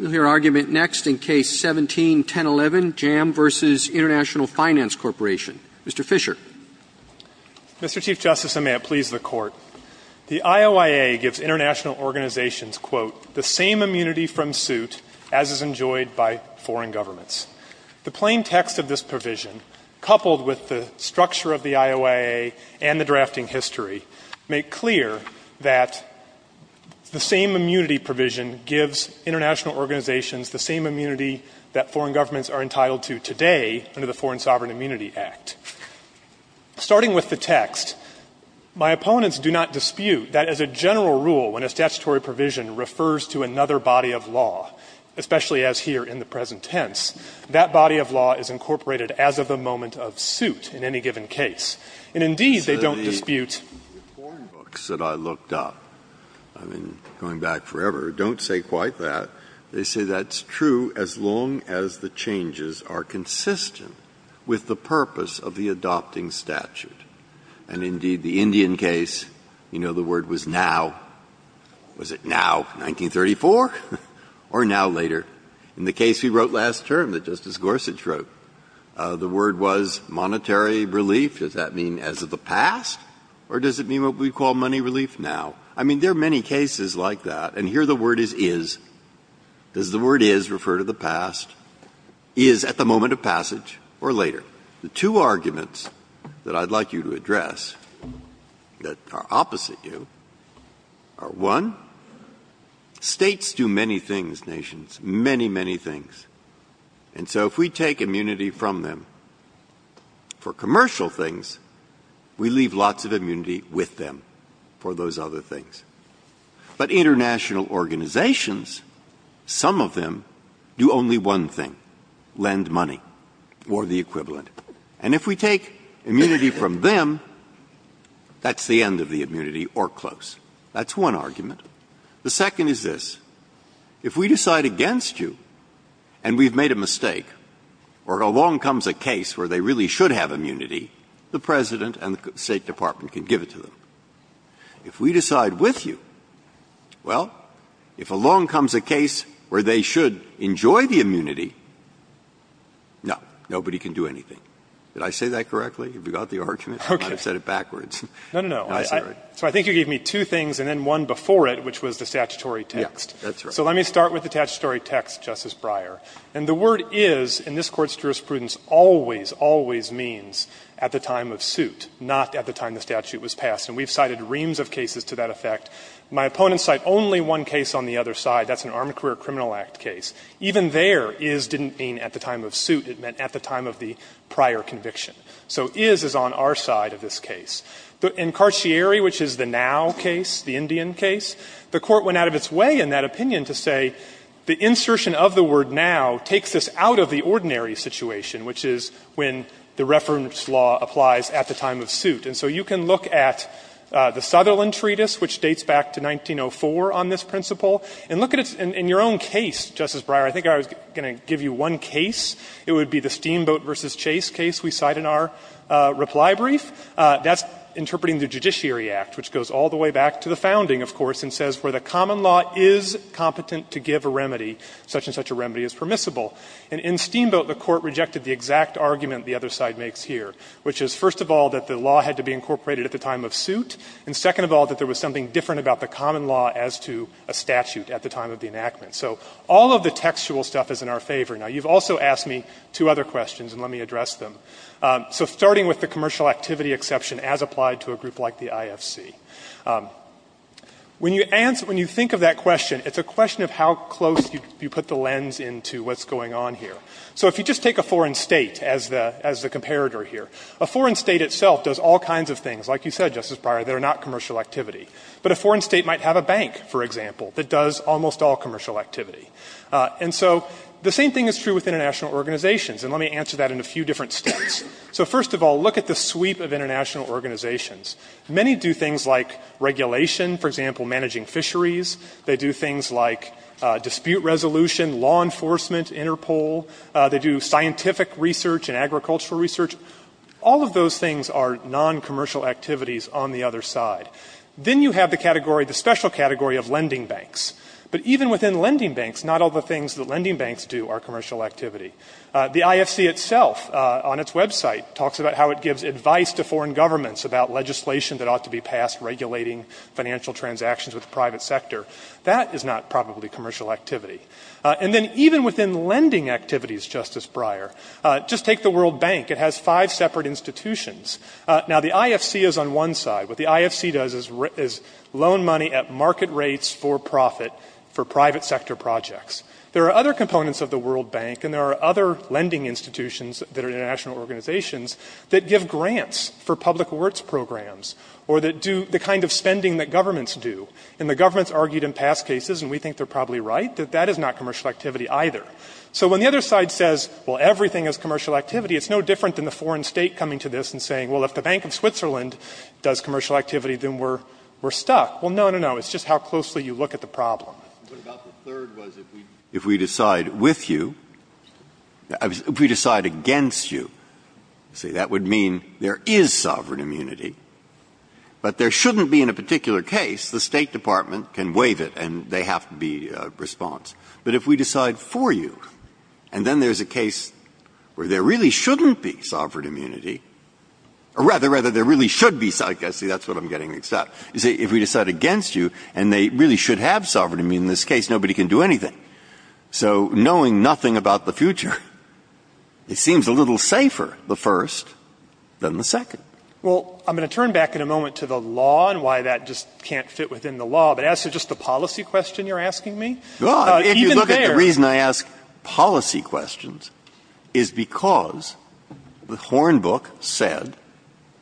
Mr. Fischer. Mr. Chief Justice, and may it please the Court, the IOIA gives international organizations, quote, the same immunity from suit as is enjoyed by foreign governments. The plain text of this provision, coupled with the structure of the IOIA and the drafting history, make clear that the same immunity from suit as is enjoyed by foreign governments international organizations the same immunity that foreign governments are entitled to today under the Foreign Sovereign Immunity Act. Starting with the text, my opponents do not dispute that as a general rule, when a statutory provision refers to another body of law, especially as here in the present tense, that body of law is incorporated as of the moment of suit in any given case. And, indeed, they don't dispute it. The foreign books that I looked up, I mean, going back forever, don't say quite that. They say that's true as long as the changes are consistent with the purpose of the adopting statute. And, indeed, the Indian case, you know the word was now, was it now 1934 or now later? In the case we wrote last term that Justice Gorsuch wrote, the word was monetary relief. Does that mean as of the past? Or does it mean what we call money relief now? I mean, there are many cases like that. And here the word is is. Does the word is refer to the past? Is at the moment of passage or later? The two arguments that I'd like you to address that are opposite you are, one, States do many things, nations, many, many things. And so if we take immunity from them for commercial things, we leave lots of immunity with them for those other things. But international organizations, some of them do only one thing, lend money or the equivalent. And if we take immunity from them, that's the end of the immunity or close. That's one argument. The second is this. If we decide against you and we've made a mistake or along comes a case where they really should have immunity, the President and the State Department can give it to them. If we decide with you, well, if along comes a case where they should enjoy the immunity, no, nobody can do anything. Did I say that correctly? Have you got the argument? I might have said it backwards. No, no, no. So I think you gave me two things and then one before it, which was the statutory text. Yes, that's right. So let me start with the statutory text, Justice Breyer. And the word is in this Court's jurisprudence always, always means at the time of suit, not at the time the statute was passed. And we've cited reams of cases to that effect. My opponents cite only one case on the other side. That's an Armed Career Criminal Act case. Even there, is didn't mean at the time of suit. It meant at the time of the prior conviction. So is is on our side of this case. In Carcieri, which is the now case, the Indian case, the Court went out of its way in that opinion to say the insertion of the word now takes us out of the ordinary situation, which is when the reference law applies at the time of suit. And so you can look at the Sutherland Treatise, which dates back to 1904 on this principle, and look at it in your own case, Justice Breyer. I think I was going to give you one case. It would be the Steamboat v. Chase case we cite in our reply brief. That's interpreting the Judiciary Act, which goes all the way back to the founding, of course, and says where the common law is competent to give a remedy, such and such a remedy is permissible. And in Steamboat, the Court rejected the exact argument the other side makes here, which is, first of all, that the law had to be incorporated at the time of suit, and second of all, that there was something different about the common law as to a statute at the time of the enactment. So all of the textual stuff is in our favor. Now, you've also asked me two other questions, and let me address them. So starting with the commercial activity exception as applied to a group like the IFC, when you think of that question, it's a question of how close you put the lens into what's going on here. So if you just take a foreign state as the comparator here, a foreign state itself does all kinds of things, like you said, Justice Breyer, that are not commercial activity. But a foreign state might have a bank, for example, that does almost all commercial activity. And so the same thing is true with international organizations, and let me answer that in a few different states. So first of all, look at the sweep of international organizations. Many do things like regulation, for example, managing fisheries. They do things like dispute resolution, law enforcement, Interpol. They do scientific research and agricultural research. All of those things are noncommercial activities on the other side. Then you have the category, the special category of lending banks. But even within lending banks, not all the things that lending banks do are commercial activity. The IFC itself, on its website, talks about how it gives advice to foreign governments about legislation that ought to be passed regulating financial transactions with the private sector. That is not probably commercial activity. And then even within lending activities, Justice Breyer, just take the World Bank. It has five separate institutions. Now, the IFC is on one side. What the IFC does is loan money at market rates for profit for private sector projects. There are other components of the World Bank, and there are other lending institutions that are international organizations, that give grants for public works programs or that do the kind of spending that governments do. And the governments argued in past cases, and we think they're probably right, that that is not commercial activity either. So when the other side says, well, everything is commercial activity, it's no different than the foreign state coming to this and saying, well, if the Bank of Switzerland does commercial activity, then we're stuck. Well, no, no, no. It's just how closely you look at the problem. Breyer. What about the third was if we decide with you, if we decide against you, see, that would mean there is sovereign immunity. But there shouldn't be in a particular case. The State Department can waive it, and they have to be in response. But if we decide for you, and then there's a case where there really shouldn't be sovereign immunity, or rather, rather, there really should be sovereign immunity, see, that's what I'm getting mixed up. You see, if we decide against you, and they really should have sovereign immunity in this case, nobody can do anything. So knowing nothing about the future, it seems a little safer, the first, than the second. Well, I'm going to turn back in a moment to the law and why that just can't fit within the law. But as to just the policy question you're asking me. Even there. Well, if you look at the reason I ask policy questions is because the Hornbook said,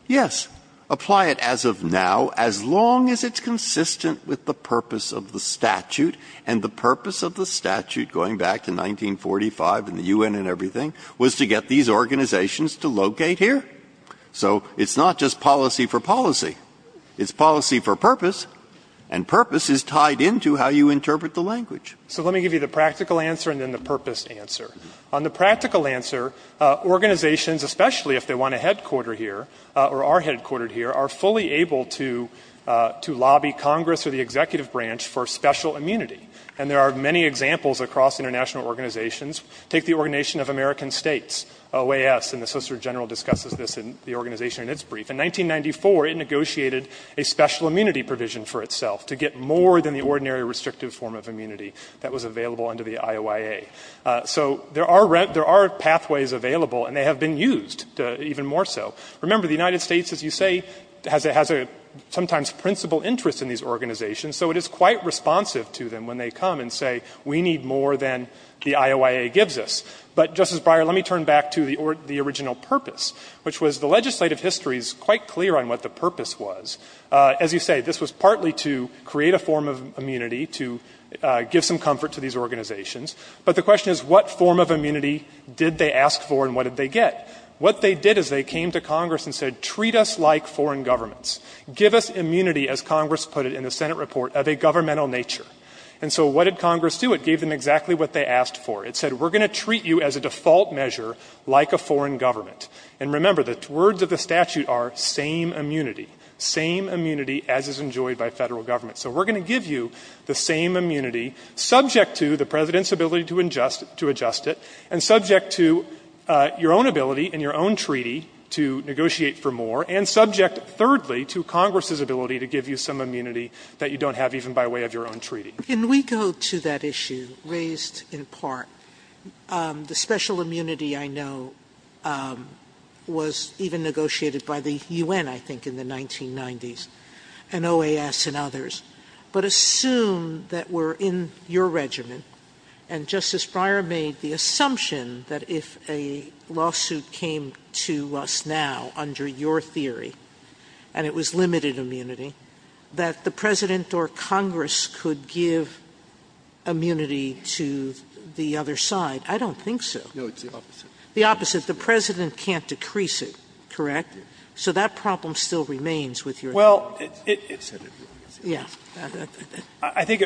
yes, apply it as of now, as long as it's consistent with the purpose of the statute. And the purpose of the statute, going back to 1945 and the U.N. and everything, was to get these organizations to locate here. So it's not just policy for policy. It's policy for purpose, and purpose is tied into how you interpret the language. So let me give you the practical answer and then the purpose answer. On the practical answer, organizations, especially if they want a headquarter here, or are headquartered here, are fully able to lobby Congress or the executive branch for special immunity. And there are many examples across international organizations. Take the Organization of American States, OAS, and the Solicitor General discusses this in the organization in its brief. In 1994, it negotiated a special immunity provision for itself to get more than the ordinary restrictive form of immunity that was available under the IOIA. So there are pathways available, and they have been used even more so. Remember, the United States, as you say, has a sometimes principal interest in these organizations, so it is quite responsive to them when they come and say, we need more than the IOIA gives us. But, Justice Breyer, let me turn back to the original purpose, which was the legislative history is quite clear on what the purpose was. As you say, this was partly to create a form of immunity, to give some comfort to these organizations. But the question is, what form of immunity did they ask for and what did they get? What they did is they came to Congress and said, treat us like foreign governments. Give us immunity, as Congress put it in the Senate report, of a governmental nature. And so what did Congress do? It gave them exactly what they asked for. It said, we are going to treat you as a default measure like a foreign government. And remember, the words of the statute are, same immunity, same immunity as is enjoyed by federal government. So we are going to give you the same immunity, subject to the President's ability to adjust it, and subject to your own ability and your own treaty to negotiate for more, and subject, thirdly, to Congress's ability to give you some immunity that you don't have even by way of your own treaty. Can we go to that issue raised in part? The special immunity I know was even negotiated by the UN, I think, in the 1990s, and OAS and others. But assume that we're in your regiment, and Justice Breyer made the assumption that if a lawsuit came to us now under your theory, and it was limited immunity, that the President or Congress could give immunity to the other side. I don't think so. No, it's the opposite. The opposite. The President can't decrease it, correct? Yes. So that problem still remains with your theory. Well, I think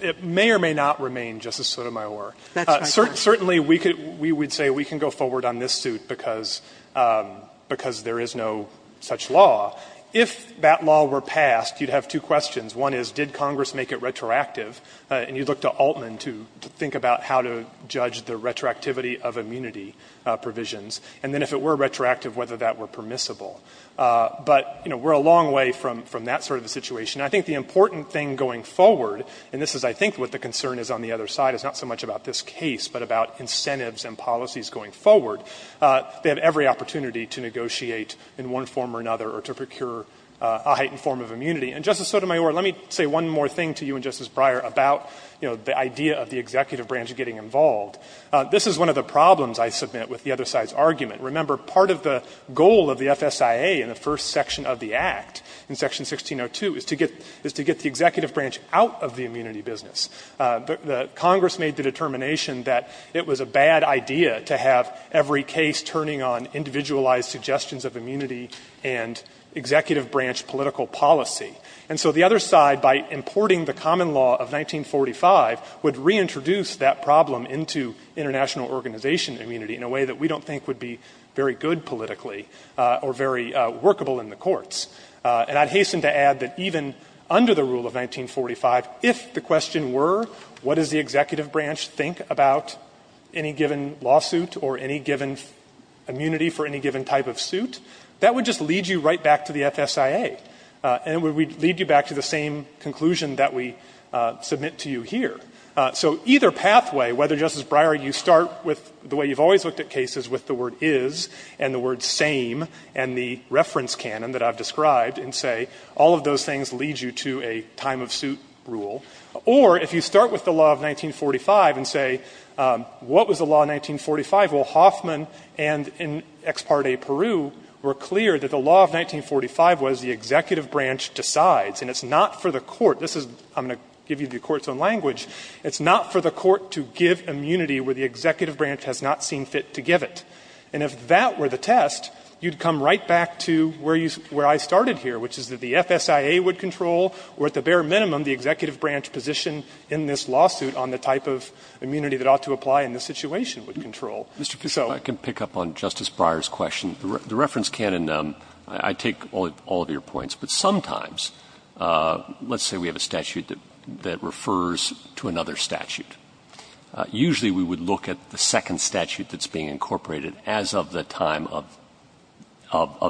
it may or may not remain, Justice Sotomayor. That's right. Certainly, we would say we can go forward on this suit because there is no such law. If that law were passed, you'd have two questions. One is, did Congress make it retroactive? And you'd look to Altman to think about how to judge the retroactivity of immunity provisions. And then if it were retroactive, whether that were permissible. But, you know, we're a long way from that sort of a situation. I think the important thing going forward, and this is, I think, what the concern is on the other side, is not so much about this case, but about incentives and policies going forward. They have every opportunity to negotiate in one form or another or to procure a heightened form of immunity. And, Justice Sotomayor, let me say one more thing to you and Justice Breyer about, you know, the idea of the executive branch getting involved. This is one of the problems I submit with the other side's argument. Remember, part of the goal of the FSIA in the first section of the Act, in Section 1602, is to get the executive branch out of the immunity business. Congress made the determination that it was a bad idea to have every case turning on individualized suggestions of immunity and executive branch political policy. And so the other side, by importing the common law of 1945, would reintroduce that problem into international organization immunity in a way that we don't think would be very good politically or very workable in the courts. And I'd hasten to add that even under the rule of 1945, if the question were, what does the executive branch think about any given lawsuit or any given immunity for any given type of suit, that would just lead you right back to the FSIA. And it would lead you back to the same conclusion that we submit to you here. So either pathway, whether, Justice Breyer, you start with the way you've always looked at cases with the word is and the word same and the reference canon that I've described and say, all of those things lead you to a time of suit rule. Or if you start with the law of 1945 and say, what was the law of 1945? Well, Hoffman and Ex Parte Peru were clear that the law of 1945 was the executive branch decides, and it's not for the court. This is, I'm going to give you the court's own language. It's not for the court to give immunity where the executive branch has not seen fit to give it. And if that were the test, you'd come right back to where you, where I started here, which is that the FSIA would control, or at the bare minimum, the executive branch position in this lawsuit on the type of immunity that ought to apply in this situation would control. So Mr. Pizzo. Roberts, I can pick up on Justice Breyer's question. The reference canon, I take all of your points, but sometimes, let's say we have a statute that refers to another statute. Usually, we would look at the second statute that's being incorporated as of the time of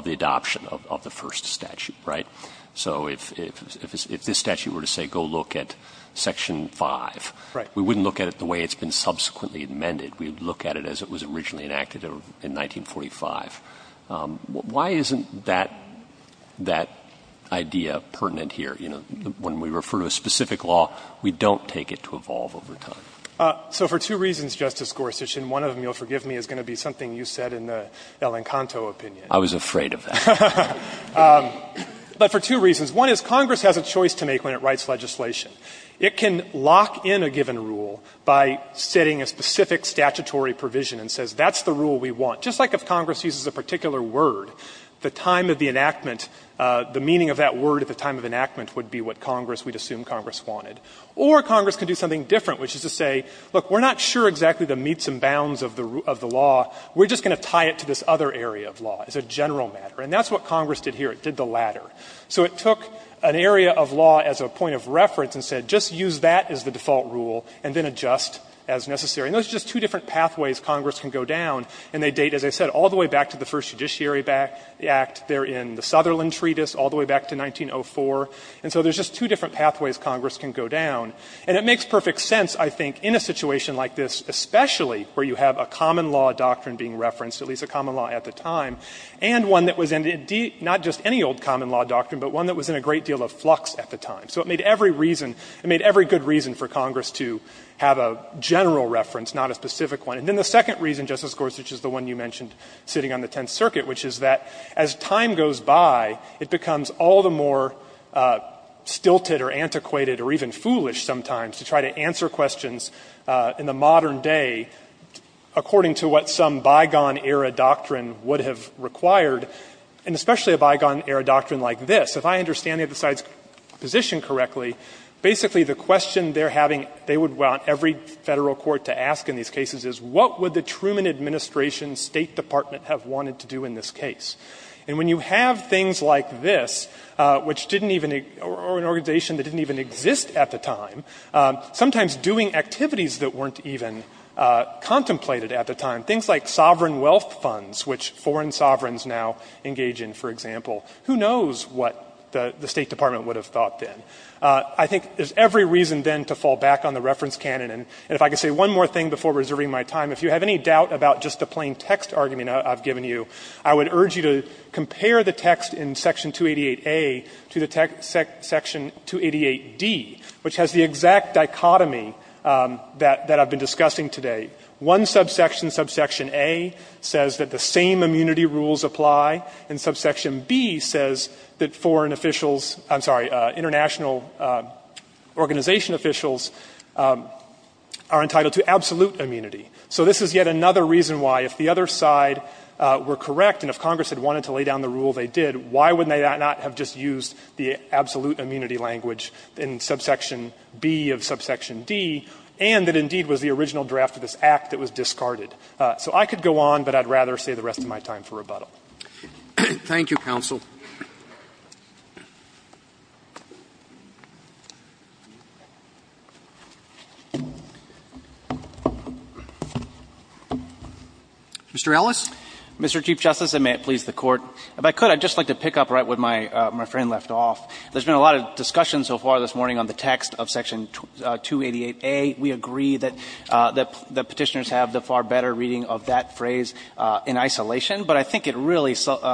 the adoption of the first statute, right? So if this statute were to say, go look at Section 5, we wouldn't look at it the way it's been subsequently amended. We'd look at it as it was originally enacted in 1945. Why isn't that idea pertinent here? You know, when we refer to a specific law, we don't take it to evolve over time. So for two reasons, Justice Gorsuch, and one of them, you'll forgive me, is going to be something you said in the El Encanto opinion. I was afraid of that. But for two reasons. One is Congress has a choice to make when it writes legislation. It can lock in a given rule by setting a specific statutory provision and says that's the rule we want. Just like if Congress uses a particular word, the time of the enactment, the meaning of that word at the time of enactment would be what Congress, we'd assume Congress wanted. Or Congress can do something different, which is to say, look, we're not sure exactly the meets and bounds of the law. We're just going to tie it to this other area of law as a general matter. And that's what Congress did here. It did the latter. So it took an area of law as a point of reference and said just use that as the default rule and then adjust as necessary. And those are just two different pathways Congress can go down, and they date, as I said, all the way back to the first Judiciary Act, they're in the Sutherland Treatise, all the way back to 1904. And so there's just two different pathways Congress can go down. And it makes perfect sense, I think, in a situation like this, especially where you have a common law doctrine being referenced, at least a common law at the time, and one that was indeed not just any old common law doctrine, but one that was in a great deal of flux at the time. So it made every reason, it made every good reason for Congress to have a general reference, not a specific one. And then the second reason, Justice Gorsuch, is the one you mentioned sitting on the It becomes all the more stilted or antiquated or even foolish sometimes to try to answer questions in the modern day according to what some bygone-era doctrine would have required, and especially a bygone-era doctrine like this. If I understand the other side's position correctly, basically the question they're having, they would want every Federal court to ask in these cases is, what would the Truman Administration State Department have wanted to do in this case? And when you have things like this, which didn't even, or an organization that didn't even exist at the time, sometimes doing activities that weren't even contemplated at the time, things like sovereign wealth funds, which foreign sovereigns now engage in, for example, who knows what the State Department would have thought then? I think there's every reason then to fall back on the reference canon. And if I could say one more thing before reserving my time, if you have any doubt about just the plain text argument I've given you, I would urge you to compare the text in Section 288A to the section 288D, which has the exact dichotomy that I've been discussing today. One subsection, subsection A, says that the same immunity rules apply, and subsection B says that foreign officials, I'm sorry, international organization officials are entitled to absolute immunity. So this is yet another reason why, if the other side were correct, and if Congress had wanted to lay down the rule they did, why would they not have just used the absolute immunity language in subsection B of subsection D, and that indeed was the original draft of this Act that was discarded? So I could go on, but I'd rather save the rest of my time for rebuttal. Thank you, counsel. Mr. Ellis. Mr. Chief Justice, and may it please the Court. If I could, I'd just like to pick up right where my friend left off. There's been a lot of discussion so far this morning on the text of Section 288A. We agree that Petitioners have the far better reading of that phrase in isolation, but I think it really settles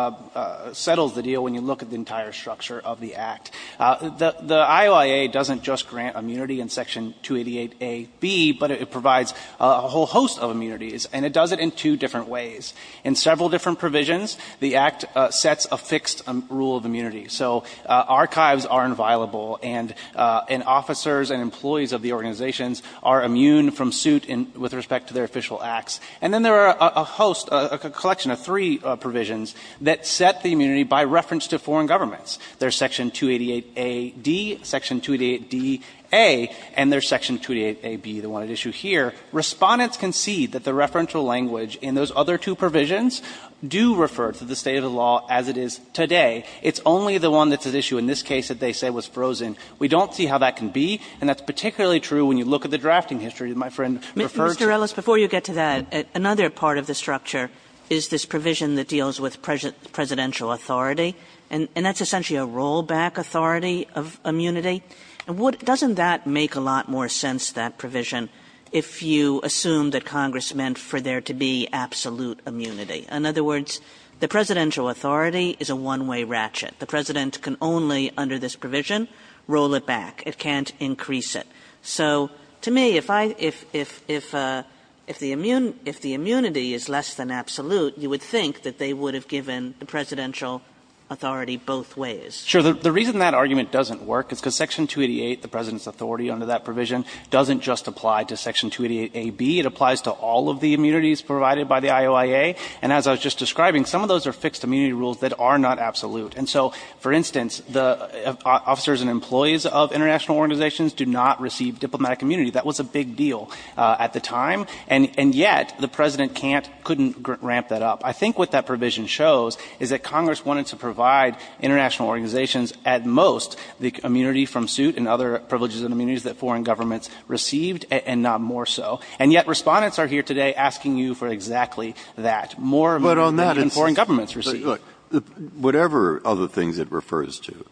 the deal when you look at the entire structure of the Act. The IOIA doesn't just grant immunity in Section 288A.B., but it provides a whole host of immunities, and it does it in two different ways. In several different provisions, the Act sets a fixed rule of immunity. So archives are inviolable, and officers and employees of the organizations are immune from suit with respect to their official acts. And then there are a host, a collection of three provisions that set the immunity by reference to foreign governments. There's Section 288A.D., Section 288D.A., and there's Section 288A.B., the one at issue here. Respondents concede that the referential language in those other two provisions do refer to the state of the law as it is today. It's only the one that's at issue in this case that they say was frozen. We don't see how that can be, and that's particularly true when you look at the drafting history that my friend referred to. Ms. Torellis, before you get to that, another part of the structure is this provision that deals with presidential authority, and that's essentially a rollback authority of immunity. And doesn't that make a lot more sense, that provision, if you assume that Congress meant for there to be absolute immunity? In other words, the presidential authority is a one-way ratchet. The president can only, under this provision, roll it back. It can't increase it. So to me, if I – if the immunity is less than absolute, you would think that they would have given the presidential authority both ways. Sure. The reason that argument doesn't work is because Section 288, the president's authority under that provision, doesn't just apply to Section 288A.B. It applies to all of the immunities provided by the IOIA. And as I was just describing, some of those are fixed immunity rules that are not absolute. And so, for instance, the officers and employees of international organizations do not receive diplomatic immunity. That was a big deal at the time. And yet, the president can't – couldn't ramp that up. I think what that provision shows is that Congress wanted to provide international organizations at most the immunity from suit and other privileges and immunities that foreign governments received, and not more so. And yet, Respondents are here today asking you for exactly that, more immunity than foreign governments receive. Breyer. Look, whatever other things it refers to,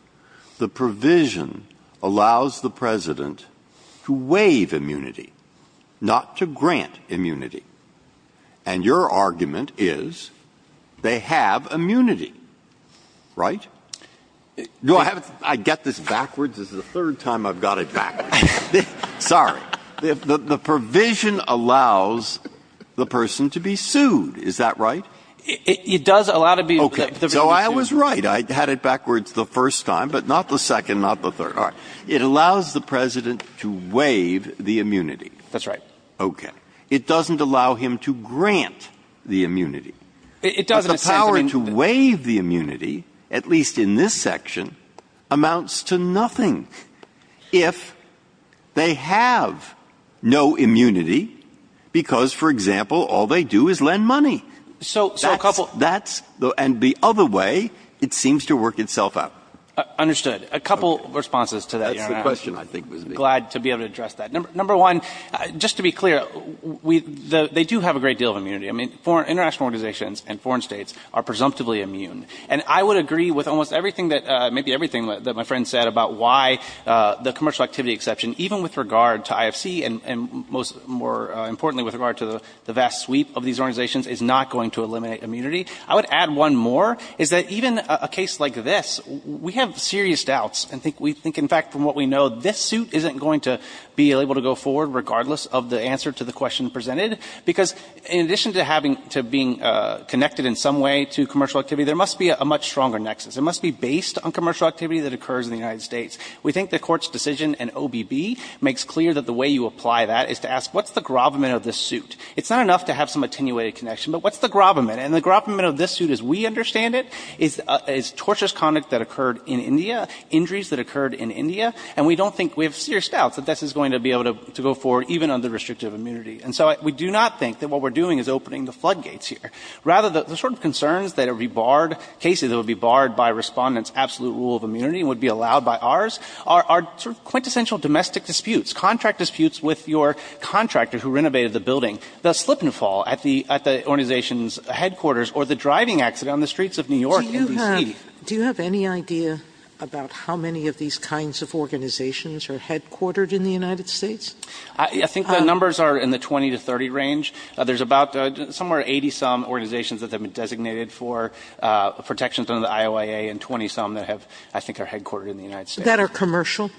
the provision allows the president to waive immunity, not to grant immunity. And your argument is they have immunity, right? No, I haven't – I get this backwards. This is the third time I've got it backwards. Sorry. The provision allows the person to be sued. Is that right? It does allow to be – Okay. So I was right. I had it backwards the first time, but not the second, not the third. All right. It allows the president to waive the immunity. That's right. Okay. It doesn't allow him to grant the immunity. It doesn't. But the power to waive the immunity, at least in this section, amounts to nothing if they have no immunity because, for example, all they do is lend money. So a couple – That's – and the other way, it seems to work itself out. Understood. A couple of responses to that. That's the question, I think. Glad to be able to address that. Number one, just to be clear, they do have a great deal of immunity. I mean, international organizations and foreign states are presumptively immune. And I would agree with almost everything that – maybe everything that my friend said about why the commercial activity exception, even with regard to IFC and most – more going to eliminate immunity. I would add one more, is that even a case like this, we have serious doubts. And we think, in fact, from what we know, this suit isn't going to be able to go forward regardless of the answer to the question presented. Because in addition to having – to being connected in some way to commercial activity, there must be a much stronger nexus. It must be based on commercial activity that occurs in the United States. We think the Court's decision in OBB makes clear that the way you apply that is to ask, what's the gravamen of this suit? It's not enough to have some attenuated connection, but what's the gravamen? And the gravamen of this suit, as we understand it, is torturous conduct that occurred in India, injuries that occurred in India. And we don't think – we have serious doubts that this is going to be able to go forward even under restrictive immunity. And so we do not think that what we're doing is opening the floodgates here. Rather, the sort of concerns that would be barred – cases that would be barred by Respondent's absolute rule of immunity and would be allowed by ours are sort of quintessential domestic disputes, contract disputes with your contractor who renovated the building, the slip and fall at the – at the organization's headquarters or the driving accident on the streets of New York in D.C. Do you have – do you have any idea about how many of these kinds of organizations are headquartered in the United States? I think the numbers are in the 20 to 30 range. There's about somewhere 80-some organizations that have been designated for protections under the IOIA and 20-some that have – I think are headquartered in the United States. That are commercial?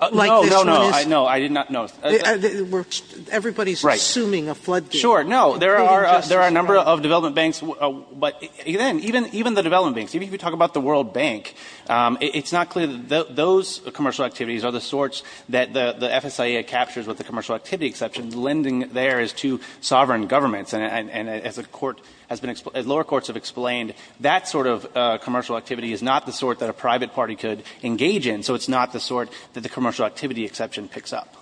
No, no, no, I – no, I did not – no. We're – everybody's assuming a floodgate. Sure. No. There are – there are a number of development banks, but even – even the development banks. If you talk about the World Bank, it's not clear that those commercial activities are the sorts that the FSIA captures with the commercial activity exception. Lending there is to sovereign governments. And as a court has been – as lower courts have explained, that sort of commercial activity is not the sort that a private party could engage in. So it's not the sort that the commercial activity exception picks up.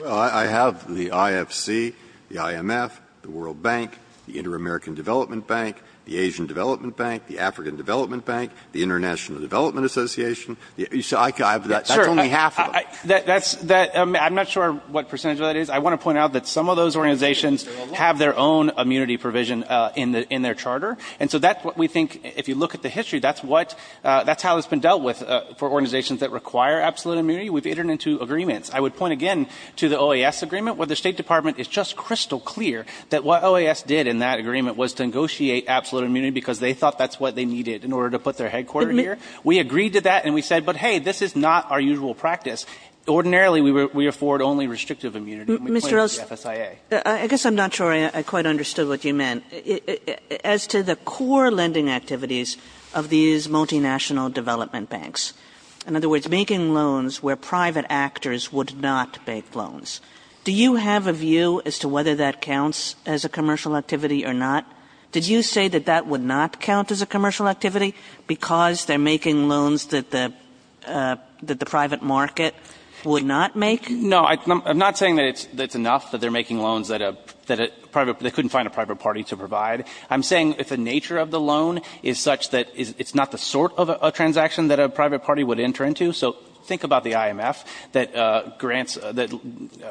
Well, I have the IFC, the IMF, the World Bank, the Inter-American Development Bank, the Asian Development Bank, the African Development Bank, the International Development Association. I have that – that's only half of them. Sure. That's – I'm not sure what percentage of that is. I want to point out that some of those organizations have their own immunity provision in their charter. And so that's what we think – if you look at the history, that's what – that's been dealt with for organizations that require absolute immunity. We've entered into agreements. I would point again to the OAS agreement, where the State Department is just crystal clear that what OAS did in that agreement was to negotiate absolute immunity because they thought that's what they needed in order to put their headquarter here. We agreed to that, and we said, but hey, this is not our usual practice. Ordinarily, we afford only restrictive immunity. And we pointed to the FSIA. Mr. Rose, I guess I'm not sure I quite understood what you meant. As to the core lending activities of these multinational development banks – in other words, making loans where private actors would not make loans – do you have a view as to whether that counts as a commercial activity or not? Did you say that that would not count as a commercial activity because they're making loans that the private market would not make? No, I'm not saying that it's enough, that they're making loans that a private – they provide. I'm saying if the nature of the loan is such that it's not the sort of a transaction that a private party would enter into – so think about the IMF that grants – that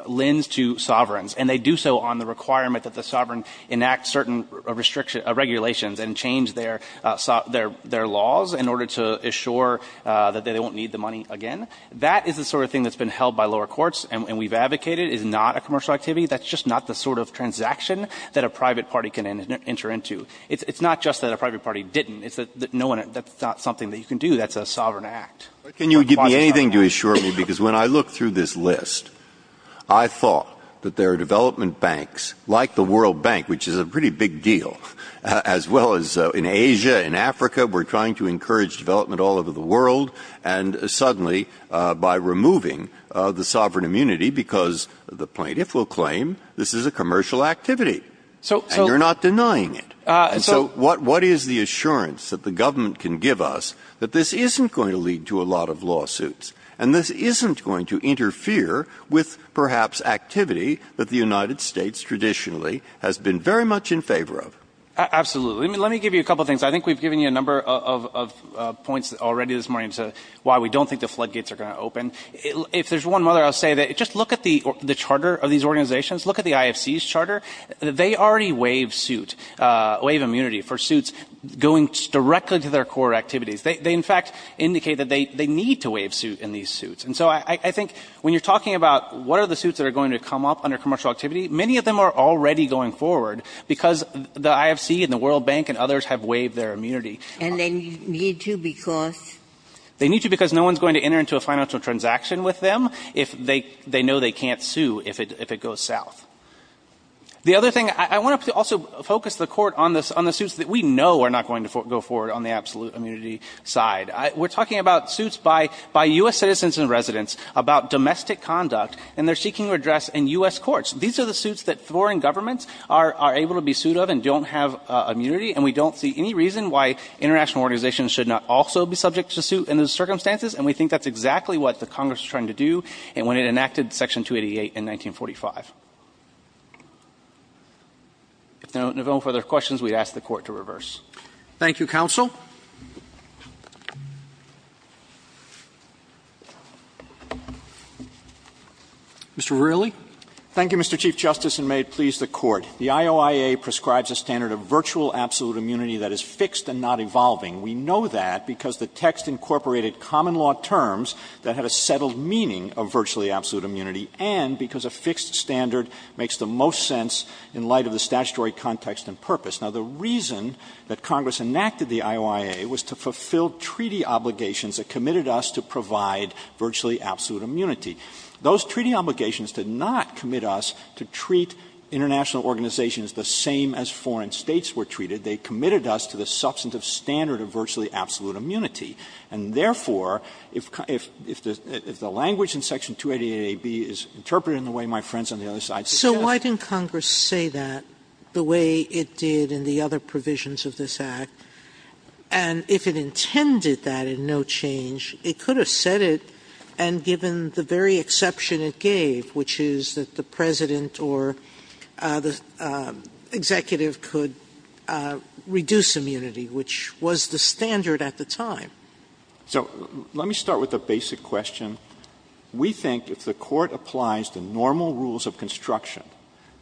lends to sovereigns, and they do so on the requirement that the sovereign enact certain regulations and change their laws in order to assure that they won't need the money again. That is the sort of thing that's been held by lower courts, and we've advocated is not a commercial activity. That's just not the sort of transaction that a private party can enter into. It's not just that a private party didn't. It's that no one – that's not something that you can do. That's a sovereign act. Can you give me anything to assure me? Because when I look through this list, I thought that there are development banks like the World Bank, which is a pretty big deal, as well as in Asia, in Africa, we're trying to encourage development all over the world, and suddenly by removing the sovereign immunity because the plaintiff will claim this is a commercial activity, and you're not denying it. And so what is the assurance that the government can give us that this isn't going to lead to a lot of lawsuits, and this isn't going to interfere with perhaps activity that the United States traditionally has been very much in favor of? Absolutely. Let me give you a couple of things. I think we've given you a number of points already this morning as to why we don't think the floodgates are going to open. If there's one other, I'll say that just look at the charter of these organizations. Look at the IFC's charter. They already waive suit – waive immunity for suits going directly to their core activities. They, in fact, indicate that they need to waive suit in these suits. And so I think when you're talking about what are the suits that are going to come up under commercial activity, many of them are already going forward because the IFC and the World Bank and others have waived their immunity. And they need to because? They need to because no one's going to enter into a financial transaction with them if they know they can't sue if it goes south. The other thing, I want to also focus the court on the suits that we know are not going to go forward on the absolute immunity side. We're talking about suits by U.S. citizens and residents about domestic conduct, and they're seeking redress in U.S. courts. These are the suits that foreign governments are able to be sued of and don't have immunity, and we don't see any reason why international organizations should not also be subject to suit in those circumstances. And we think that's exactly what the Congress was trying to do when it enacted Section 288 in 1945. If there are no further questions, we'd ask the Court to reverse. Roberts. Thank you, counsel. Mr. Verrilli. Thank you, Mr. Chief Justice, and may it please the Court. The IOIA prescribes a standard of virtual absolute immunity that is fixed and not evolving. We know that because the text incorporated common law terms that had a settled meaning of virtually absolute immunity and because a fixed standard makes the most sense in light of the statutory context and purpose. Now, the reason that Congress enacted the IOIA was to fulfill treaty obligations that committed us to provide virtually absolute immunity. Those treaty obligations did not commit us to treat international organizations the same as foreign states were treated. They committed us to the substantive standard of virtually absolute immunity. And therefore, if the language in Section 288a)(b is interpreted in the way my friends on the other side suggest. Sotomayor So why didn't Congress say that the way it did in the other provisions of this Act? And if it intended that in no change, it could have said it and given the very exception it gave, which is that the President or the Executive could reduce immunity, which was the standard at the time. Verrilli, So let me start with a basic question. We think if the Court applies the normal rules of construction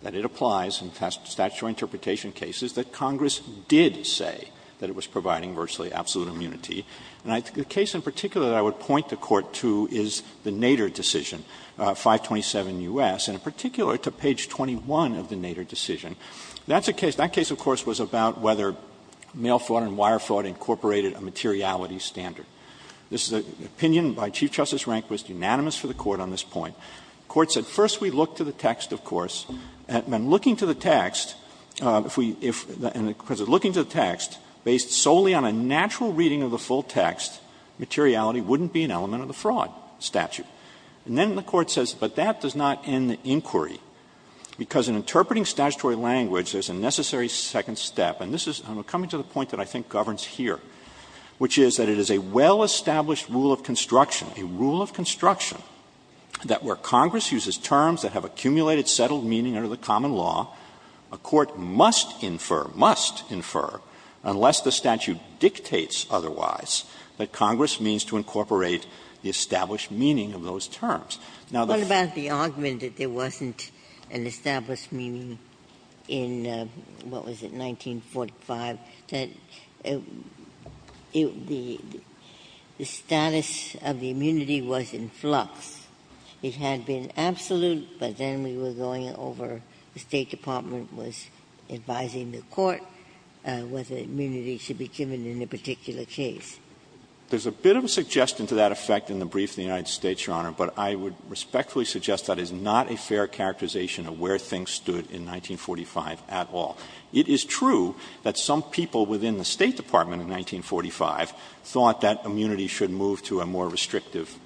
that it applies in statutory interpretation cases, that Congress did say that it was providing virtually absolute immunity. And the case in particular that I would point the Court to is the Nader decision, 527 U.S., and in particular to page 21 of the Nader decision. That's a case of course was about whether mail fraud and wire fraud incorporated a materiality standard. This is an opinion by Chief Justice Rehnquist, unanimous for the Court on this point. The Court said first we look to the text, of course, and looking to the text, if we look to the text, based solely on a natural reading of the full text, materiality wouldn't be an element of the fraud statute. And then the Court says, but that does not end the inquiry, because in interpreting statutory language, there's a necessary second step, and this is coming to the point that I think governs here, which is that it is a well-established rule of construction, a rule of construction, that where Congress uses terms that have accumulated settled meaning under the common law, a court must infer, must infer, unless the statute dictates otherwise, that Congress means to incorporate the established meaning of those terms. Now, the Foxx. Ginsburg. What about the argument that there wasn't an established meaning in, what was it, 1945, that the status of the immunity was in flux? It had been absolute, but then we were going over, the State Department was advising the Court whether immunity should be given in a particular case. There's a bit of a suggestion to that effect in the brief in the United States, Your Honor, but I would respectfully suggest that is not a fair characterization of where things stood in 1945 at all. It is true that some people within the State Department in 1945 thought that immunity should move to a more restrictive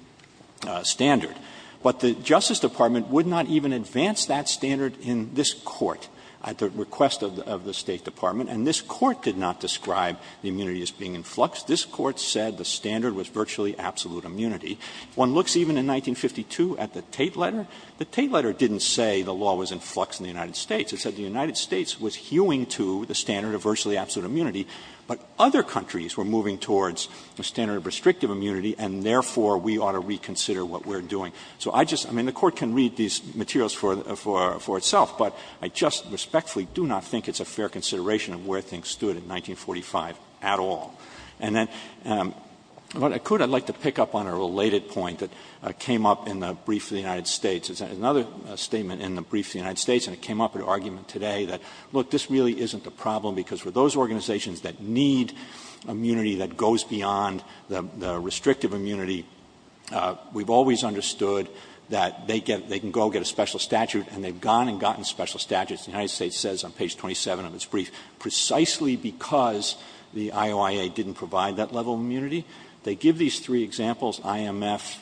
standard, but the Justice Department would not even advance that standard in this Court at the request of the State Department, and this Court did not describe the immunity as being in flux. This Court said the standard was virtually absolute immunity. If one looks even in 1952 at the Tate letter, the Tate letter didn't say the law was in flux in the United States. It said the United States was hewing to the standard of virtually absolute immunity, but other countries were moving towards the standard of restrictive immunity, and therefore we ought to reconsider what we're doing. So I just — I mean, the Court can read these materials for itself, but I just respectfully do not think it's a fair consideration of where things stood in 1945 at all. And then, what I could — I'd like to pick up on a related point that came up in the brief of the United States. It's another statement in the brief of the United States, and it came up in an argument today that, look, this really isn't a problem because for those organizations that need immunity that goes beyond the restrictive immunity, we've always understood that they get — they can go get a special statute, and they've gone and gotten special statutes. The United States says on page 27 of its brief, precisely because the IOIA didn't provide that level of immunity. They give these three examples, IMF,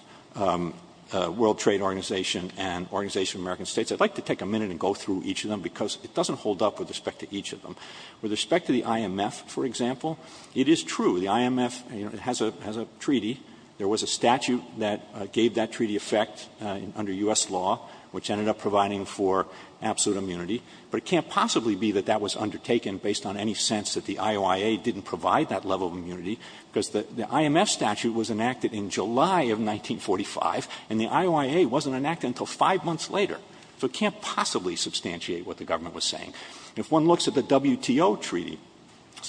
World Trade Organization, and Organization of American States. I'd like to take a minute and go through each of them because it doesn't hold up with respect to each of them. With respect to the IMF, for example, it is true, the IMF, you know, it has a treaty. There was a statute that gave that treaty effect under U.S. law, which ended up providing for absolute immunity. But it can't possibly be that that was undertaken based on any sense that the IOIA didn't provide that level of immunity because the IMF statute was enacted in July of 1945, and the IOIA wasn't enacted until five months later. So it can't possibly substantiate what the government was saying. If one looks at the WTO treaty,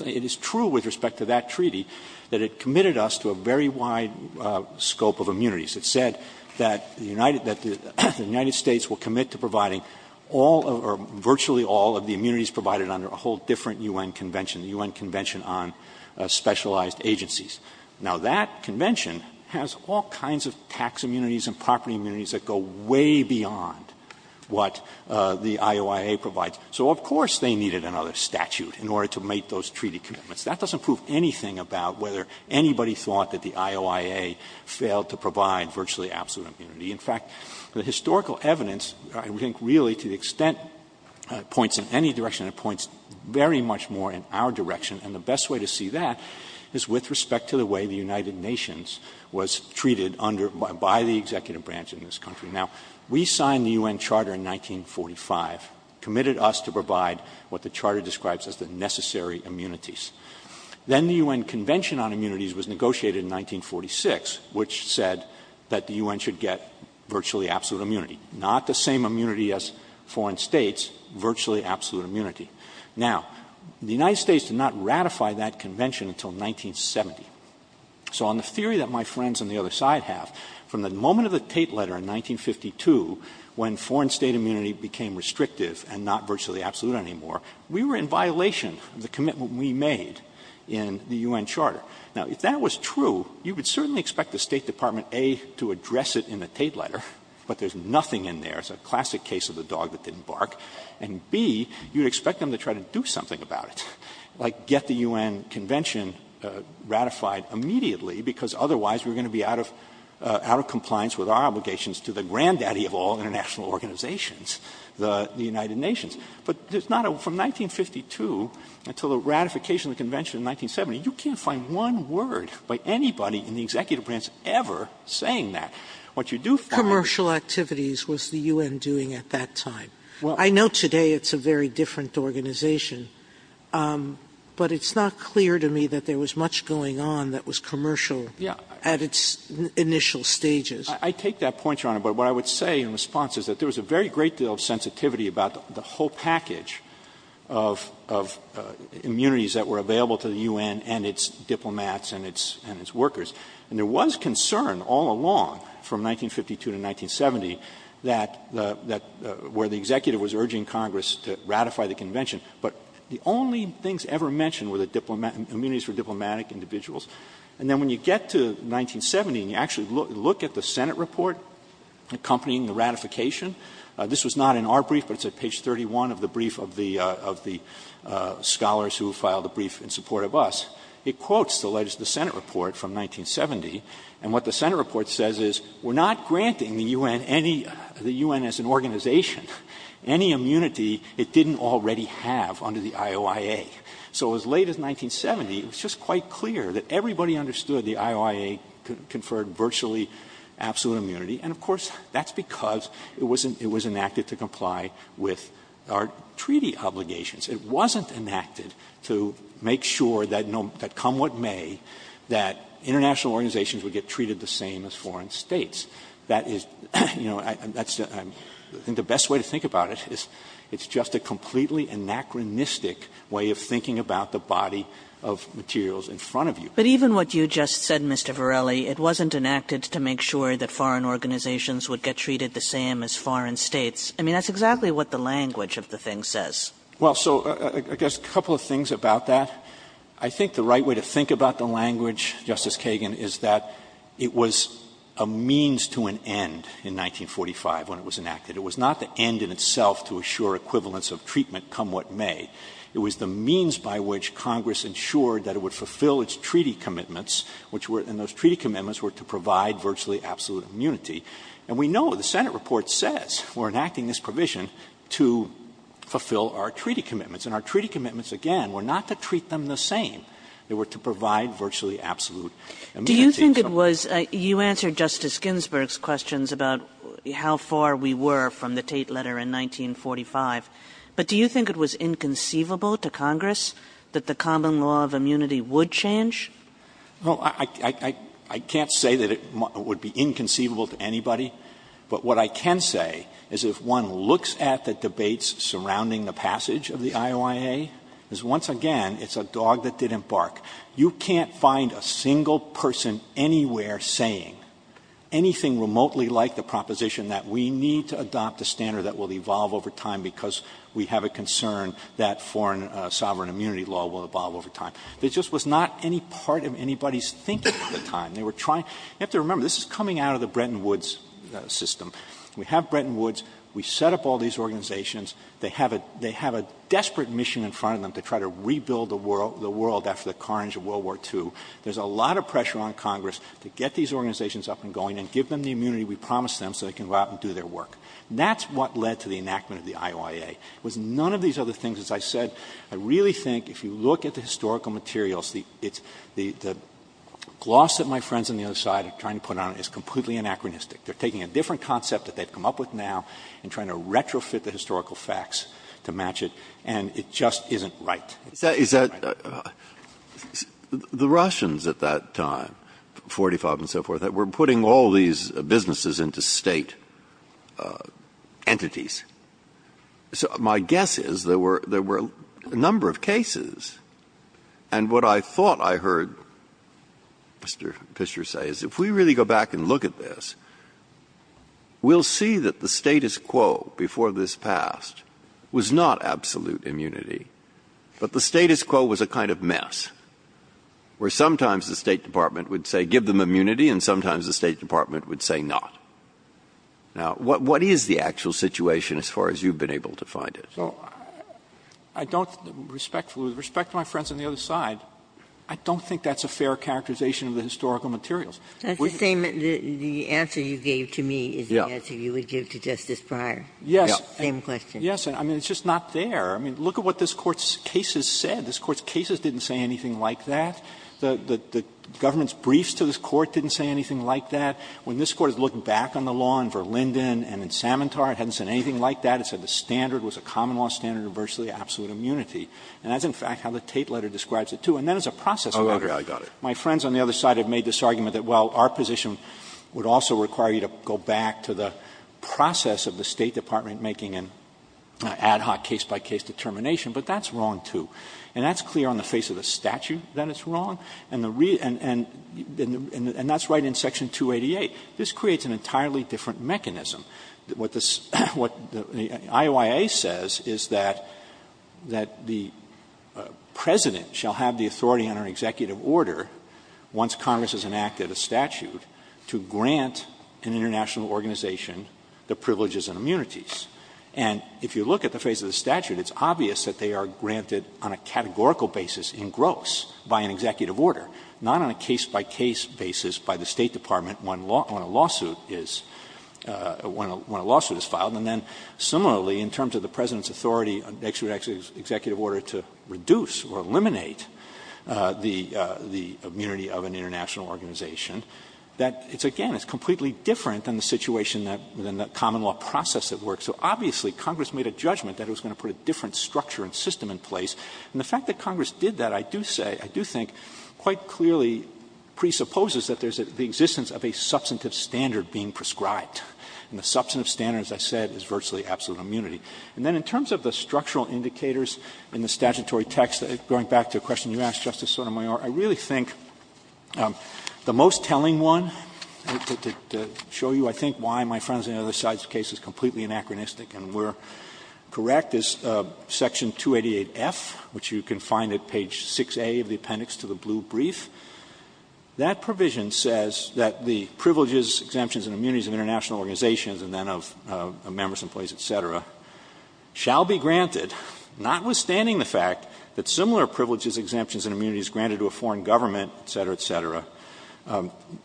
it is true with respect to that treaty that it committed us to a very wide scope of immunities. It said that the United States will commit to providing all or virtually all of the immunities provided under a whole different U.N. convention, the U.N. Convention on Specialized Agencies. Now, that convention has all kinds of tax immunities and property immunities that go way beyond what the IOIA provides. So, of course, they needed another statute in order to make those treaty commitments. That doesn't prove anything about whether anybody thought that the IOIA failed to provide virtually absolute immunity. In fact, the historical evidence, I think, really, to the extent it points in any direction, it points very much more in our direction. And the best way to see that is with respect to the way the United Nations was treated under by the executive branch in this country. Now, we signed the U.N. Charter in 1945, committed us to provide what the charter describes as the necessary immunities. Then the U.N. Convention on Immunities was negotiated in 1946, which said that the U.N. should get virtually absolute immunity, not the same immunity as foreign states, virtually absolute immunity. Now, the United States did not ratify that convention until 1970. So on the theory that my friends on the other side have, from the moment of the Tate letter in 1952, when foreign state immunity became restrictive and not virtually absolute anymore, we were in violation of the commitment we made in the U.N. Charter. Now, if that was true, you would certainly expect the State Department, A, to address it in the Tate letter, but there's nothing in there. It's a classic case of the dog that didn't bark. And, B, you would expect them to try to do something about it, like get the U.N. Convention ratified immediately, because otherwise we're going to be out of compliance with our obligations to the granddaddy of all international organizations, the United Nations. But there's not a ---- from 1952 until the ratification of the convention in 1970, you can't find one word by anybody in the executive branch ever saying that. What you do find is ---- Sotomayor's Commercial activities was the U.N. doing at that time. I know today it's a very different organization, but it's not clear to me that there was much going on that was commercial at its initial stages. Verrilli, I take that point, Your Honor, but what I would say in response is that there was a very great deal of sensitivity about the whole package of immunities that were available to the U.N. and its diplomats and its workers. And there was concern all along from 1952 to 1970 that the ---- where the executive was urging Congress to ratify the convention, but the only things ever mentioned were the immunities for diplomatic individuals. And then when you get to 1970 and you actually look at the Senate report accompanying the ratification, this was not in our brief, but it's at page 31 of the brief of the scholars who filed the brief in support of us, it quotes the Senate report from 1970. And what the Senate report says is we're not granting the U.N. any ---- the U.N. as an organization any immunity it didn't already have under the IOIA. So as late as 1970, it was just quite clear that everybody understood the IOIA conferred virtually absolute immunity, and of course, that's because it was enacted to comply with our treaty obligations. It wasn't enacted to make sure that come what may, that international organizations would get treated the same as foreign States. That is, you know, that's the best way to think about it, is it's just a completely anachronistic way of thinking about the body of materials in front of you. Kagan. But even what you just said, Mr. Varelli, it wasn't enacted to make sure that foreign organizations would get treated the same as foreign States. I mean, that's exactly what the language of the thing says. Verrilli, I guess a couple of things about that. I think the right way to think about the language, Justice Kagan, is that it was a means to an end in 1945 when it was enacted. It was not the end in itself to assure equivalence of treatment come what may. It was the means by which Congress ensured that it would fulfill its treaty commitments, which were to provide virtually absolute immunity. And we know, the Senate report says, we're enacting this provision to fulfill our treaty commitments, and our treaty commitments, again, were not to treat them the same. They were to provide virtually absolute immunity. Kagan. Do you think it was – you answered Justice Ginsburg's questions about how far we were from the Tate letter in 1945. But do you think it was inconceivable to Congress that the common law of immunity would change? Verrilli, I can't say that it would be inconceivable to anybody. But what I can say is if one looks at the debates surrounding the passage of the IOIA, is once again, it's a dog that didn't bark. You can't find a single person anywhere saying anything remotely like the proposition that we need to adopt a standard that will evolve over time because we have a concern that foreign sovereign immunity law will evolve over time. It just was not any part of anybody's thinking at the time. They were trying – you have to remember, this is coming out of the Bretton Woods system. We have Bretton Woods. We set up all these organizations. There's a lot of pressure on Congress to get these organizations up and going and give them the immunity we promised them so they can go out and do their work. That's what led to the enactment of the IOIA. It was none of these other things. As I said, I really think if you look at the historical materials, the gloss that my friends on the other side are trying to put on it is completely anachronistic. They're taking a different concept that they've come up with now and trying to retrofit the historical facts to match it, and it just isn't right. Breyer. Is that – the Russians at that time, 45 and so forth, that were putting all these businesses into State entities, so my guess is there were a number of cases, and what I thought I heard Mr. Fisher say is if we really go back and look at this, we'll see that the status quo before this passed was not absolute immunity, but the status quo was a kind of mess where sometimes the State Department would say give them immunity and sometimes the State Department would say not. Now, what is the actual situation as far as you've been able to find it? I don't – with respect to my friends on the other side, I don't think that's a fair characterization of the historical materials. Ginsburg. That's the same – the answer you gave to me is the answer you would give to Justice Breyer. Breyer. Yes. Same question. Yes. I mean, it's just not there. I mean, look at what this Court's cases said. This Court's cases didn't say anything like that. The government's briefs to this Court didn't say anything like that. When this Court has looked back on the law in Verlinden and in Samantar, it hasn't said anything like that. It said the standard was a common law standard of virtually absolute immunity. And that's, in fact, how the Tate letter describes it, too. And that is a process of entry. Scalia. Oh, I got it. My friends on the other side have made this argument that, well, our position would also require you to go back to the process of the State Department making an ad hoc case-by-case determination, but that's wrong, too. And that's clear on the face of the statute that it's wrong, and the – and that's right in Section 288. This creates an entirely different mechanism. What the – what the IOIA says is that the President shall have the authority under an executive order, once Congress has enacted a statute, to grant an international organization the privileges and immunities. And if you look at the face of the statute, it's obvious that they are granted on a categorical basis in gross by an executive order, not on a case-by-case basis by the State Department when a lawsuit is – when a lawsuit is filed. And then, similarly, in terms of the President's authority, an executive order to reduce or eliminate the – the immunity of an international organization, that it's – again, it's completely different than the situation that – than the common law process that works. So obviously, Congress made a judgment that it was going to put a different structure and system in place. And the fact that Congress did that, I do say, I do think, quite clearly presupposes that there's the existence of a substantive standard being prescribed. And the substantive standard, as I said, is virtually absolute immunity. And then in terms of the structural indicators in the statutory text, going back to a question you asked, Justice Sotomayor, I really think the most telling one, to show you, I think, why my friends on the other side's case is completely anachronistic and where correct is Section 288F, which you can find at page 6A of the appendix to the blue brief. That provision says that the privileges, exemptions, and immunities of international organizations and then of members, employees, et cetera, shall be granted, notwithstanding the fact that similar privileges, exemptions, and immunities granted to a foreign government, et cetera, et cetera,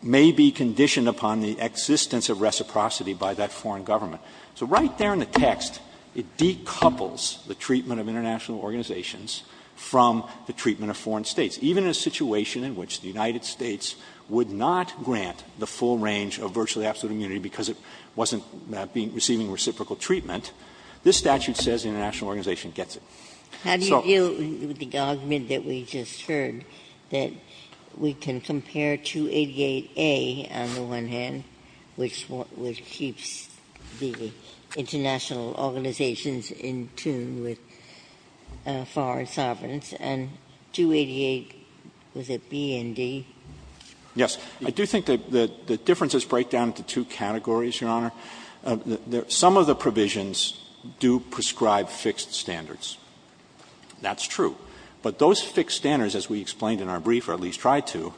may be conditioned upon the existence of reciprocity by that foreign government. So right there in the text, it decouples the treatment of international organizations from the treatment of foreign states, even in a situation in which the United States would not grant the full range of virtually absolute immunity because it wasn't receiving reciprocal treatment. This statute says the international organization gets it. So the statute says that the international organization gets it. Ginsburg. How do you deal with the argument that we just heard, that we can compare 288A on the one hand, which keeps the international organizations in tune with foreign sovereigns, and 288, was it B and D? Verrilli, Yes. I do think that the differences break down into two categories, Your Honor. Some of the provisions do prescribe fixed standards. That's true. But those fixed standards, as we explained in our brief, or at least tried to,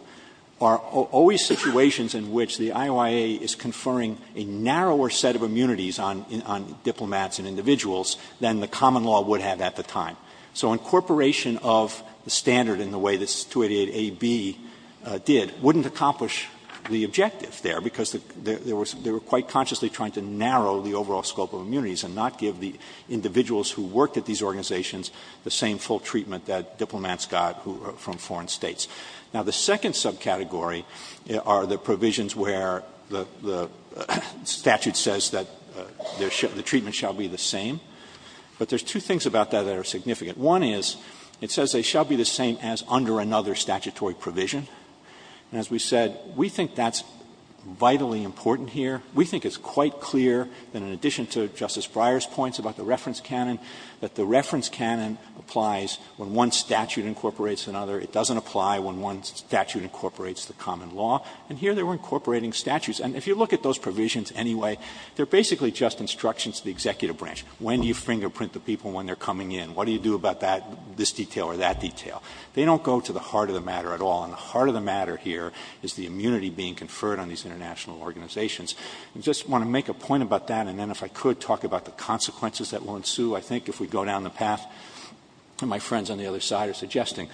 are always situations in which the IOIA is conferring a narrower set of immunities on diplomats and individuals than the common law would have at the time. So incorporation of the standard in the way that 288A, B did wouldn't accomplish the objective there, because there was — they were quite consciously trying to narrow the overall scope of immunities and not give the individuals who worked at these organizations the same full treatment that diplomats got from foreign states. Now, the second subcategory are the provisions where the statute says that the treatment shall be the same. But there's two things about that that are significant. One is it says they shall be the same as under another statutory provision. And as we said, we think that's vitally important here. We think it's quite clear that in addition to Justice Breyer's points about the reference canon, that the reference canon applies when one statute incorporates another. It doesn't apply when one statute incorporates the common law. And here they were incorporating statutes. And if you look at those provisions anyway, they're basically just instructions to the executive branch. When do you fingerprint the people when they're coming in? What do you do about that — this detail or that detail? They don't go to the heart of the matter at all. And the heart of the matter here is the immunity being conferred on these international organizations. I just want to make a point about that, and then, if I could, talk about the consequences that will ensue, I think, if we go down the path my friends on the other side are suggesting.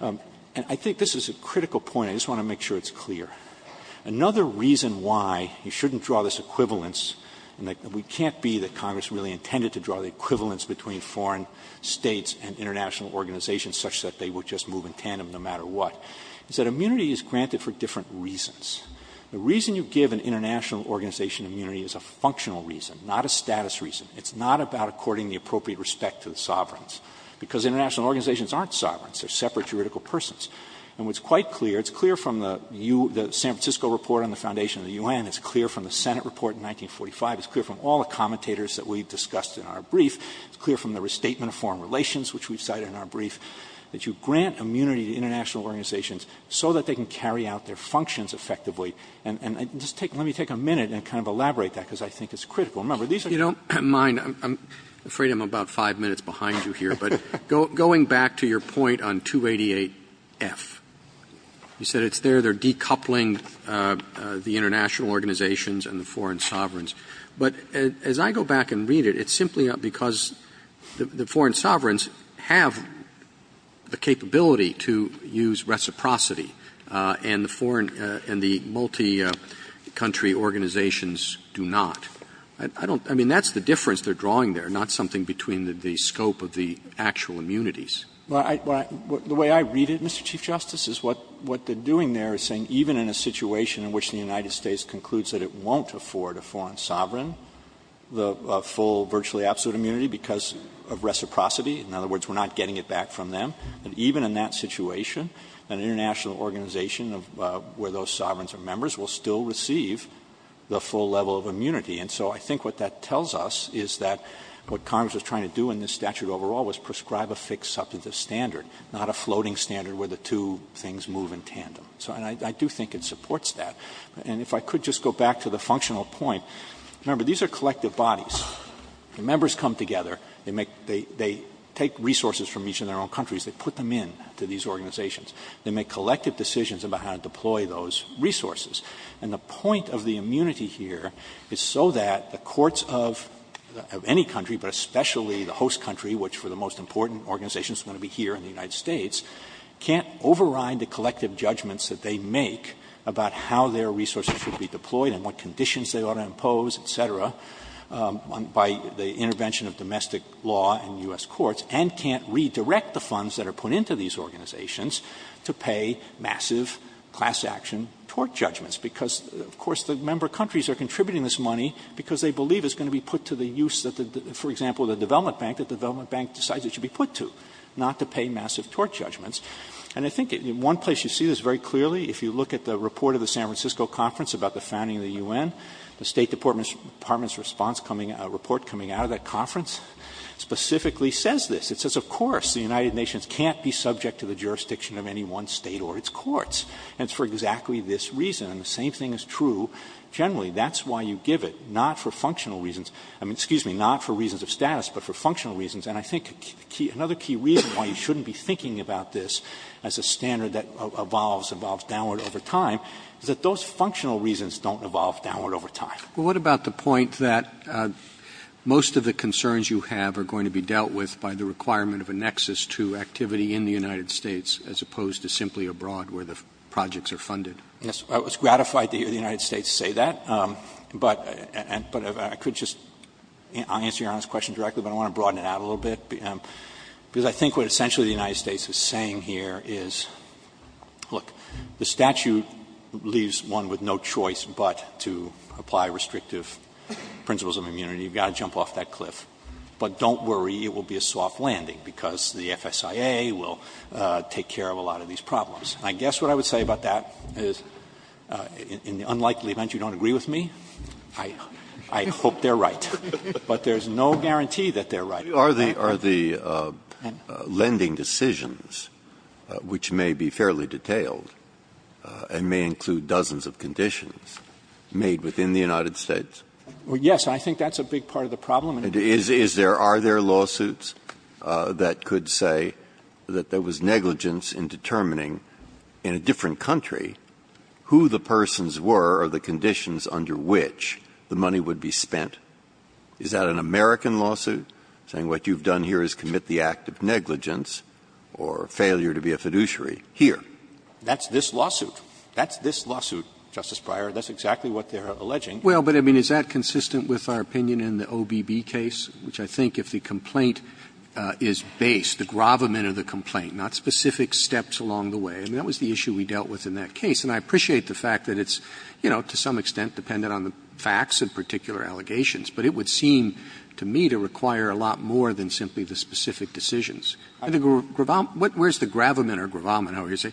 And I think this is a critical point. I just want to make sure it's clear. Another reason why you shouldn't draw this equivalence, and we can't be that Congress really intended to draw the equivalence between foreign States and international organizations such that they would just move in tandem no matter what, is that immunity is granted for different reasons. The reason you give an international organization immunity is a functional reason, not a status reason. It's not about according the appropriate respect to the sovereigns, because international organizations aren't sovereigns. They're separate juridical persons. And what's quite clear, it's clear from the San Francisco report on the foundation of the U.N., it's clear from the Senate report in 1945, it's clear from all the commentators that we've discussed in our brief, it's clear from the restatement of foreign relations, which we've cited in our brief, that you grant immunity to international organizations so that they can carry out their functions effectively. And just take let me take a minute and kind of elaborate that, because I think it's Remember, these are the kinds of things that we're talking about. Roberts. You don't mind, I'm afraid I'm about five minutes behind you here, but going back to your point on 288F, you said it's there, they're decoupling the international organizations and the foreign sovereigns. But as I go back and read it, it's simply because the foreign sovereigns have the capability to use reciprocity, and the foreign and the multi-country organizations do not. I don't, I mean, that's the difference they're drawing there, not something between the scope of the actual immunities. Well, I, the way I read it, Mr. Chief Justice, is what they're doing there is saying even in a situation in which the United States concludes that it won't afford a foreign sovereign the full virtually absolute immunity because of reciprocity, in other words, we're not getting it back from them, and even in that situation, an international organization of where those sovereigns are members will still receive the full level of immunity. And so I think what that tells us is that what Congress was trying to do in this statute overall was prescribe a fixed substantive standard, not a floating standard where the two things move in tandem. And I do think it supports that. And if I could just go back to the functional point. Remember, these are collective bodies. The members come together. They make, they take resources from each of their own countries. They put them in to these organizations. They make collective decisions about how to deploy those resources. And the point of the immunity here is so that the courts of any country, but especially the host country, which for the most important organizations is going to be here in the United States, can't override the collective judgments that they make about how their resources should be deployed and what conditions they ought to impose, et cetera, by the intervention of domestic law in U.S. courts, and can't redirect the funds that are put into these organizations to pay massive class action tort judgments. Because, of course, the member countries are contributing this money because they believe it's going to be put to the use of the, for example, the development bank that the development bank decides it should be put to, not to pay massive tort judgments. And I think in one place you see this very clearly. If you look at the report of the San Francisco conference about the founding of the U.N., the State Department's response coming out, report coming out of that conference specifically says this. It says, of course, the United Nations can't be subject to the jurisdiction of any one State or its courts. And it's for exactly this reason. And the same thing is true generally. That's why you give it, not for functional reasons. I mean, excuse me, not for reasons of status, but for functional reasons. And I think another key reason why you shouldn't be thinking about this as a standard that evolves, evolves downward over time, is that those functional reasons don't evolve downward over time. Roberts. Well, what about the point that most of the concerns you have are going to be dealt with by the requirement of a nexus to activity in the United States as opposed to simply abroad where the projects are funded? Verrilli, Jr. Yes. I was gratified to hear the United States say that. I think what essentially the United States is saying here is, look, the statute leaves one with no choice but to apply restrictive principles of immunity. You've got to jump off that cliff. But don't worry, it will be a soft landing, because the FSIA will take care of a lot of these problems. And I guess what I would say about that is, in the unlikely event you don't agree with me, I hope they're right. But there's no guarantee that they're right. Breyer. Are the lending decisions, which may be fairly detailed and may include dozens of conditions, made within the United States? Well, yes, I think that's a big part of the problem. Is there or are there lawsuits that could say that there was negligence in determining in a different country who the persons were or the conditions under which the money would be spent? Is that an American lawsuit? Saying what you've done here is commit the act of negligence or failure to be a fiduciary here. That's this lawsuit. That's this lawsuit, Justice Breyer. That's exactly what they're alleging. Well, but I mean, is that consistent with our opinion in the OBB case, which I think if the complaint is based, the gravamen of the complaint, not specific steps along the way? I mean, that was the issue we dealt with in that case. And I appreciate the fact that it's, you know, to some extent dependent on the facts and particular allegations. But it would seem to me to require a lot more than simply the specific decisions. And the gravamen, where's the gravamen or gravamen, however you say,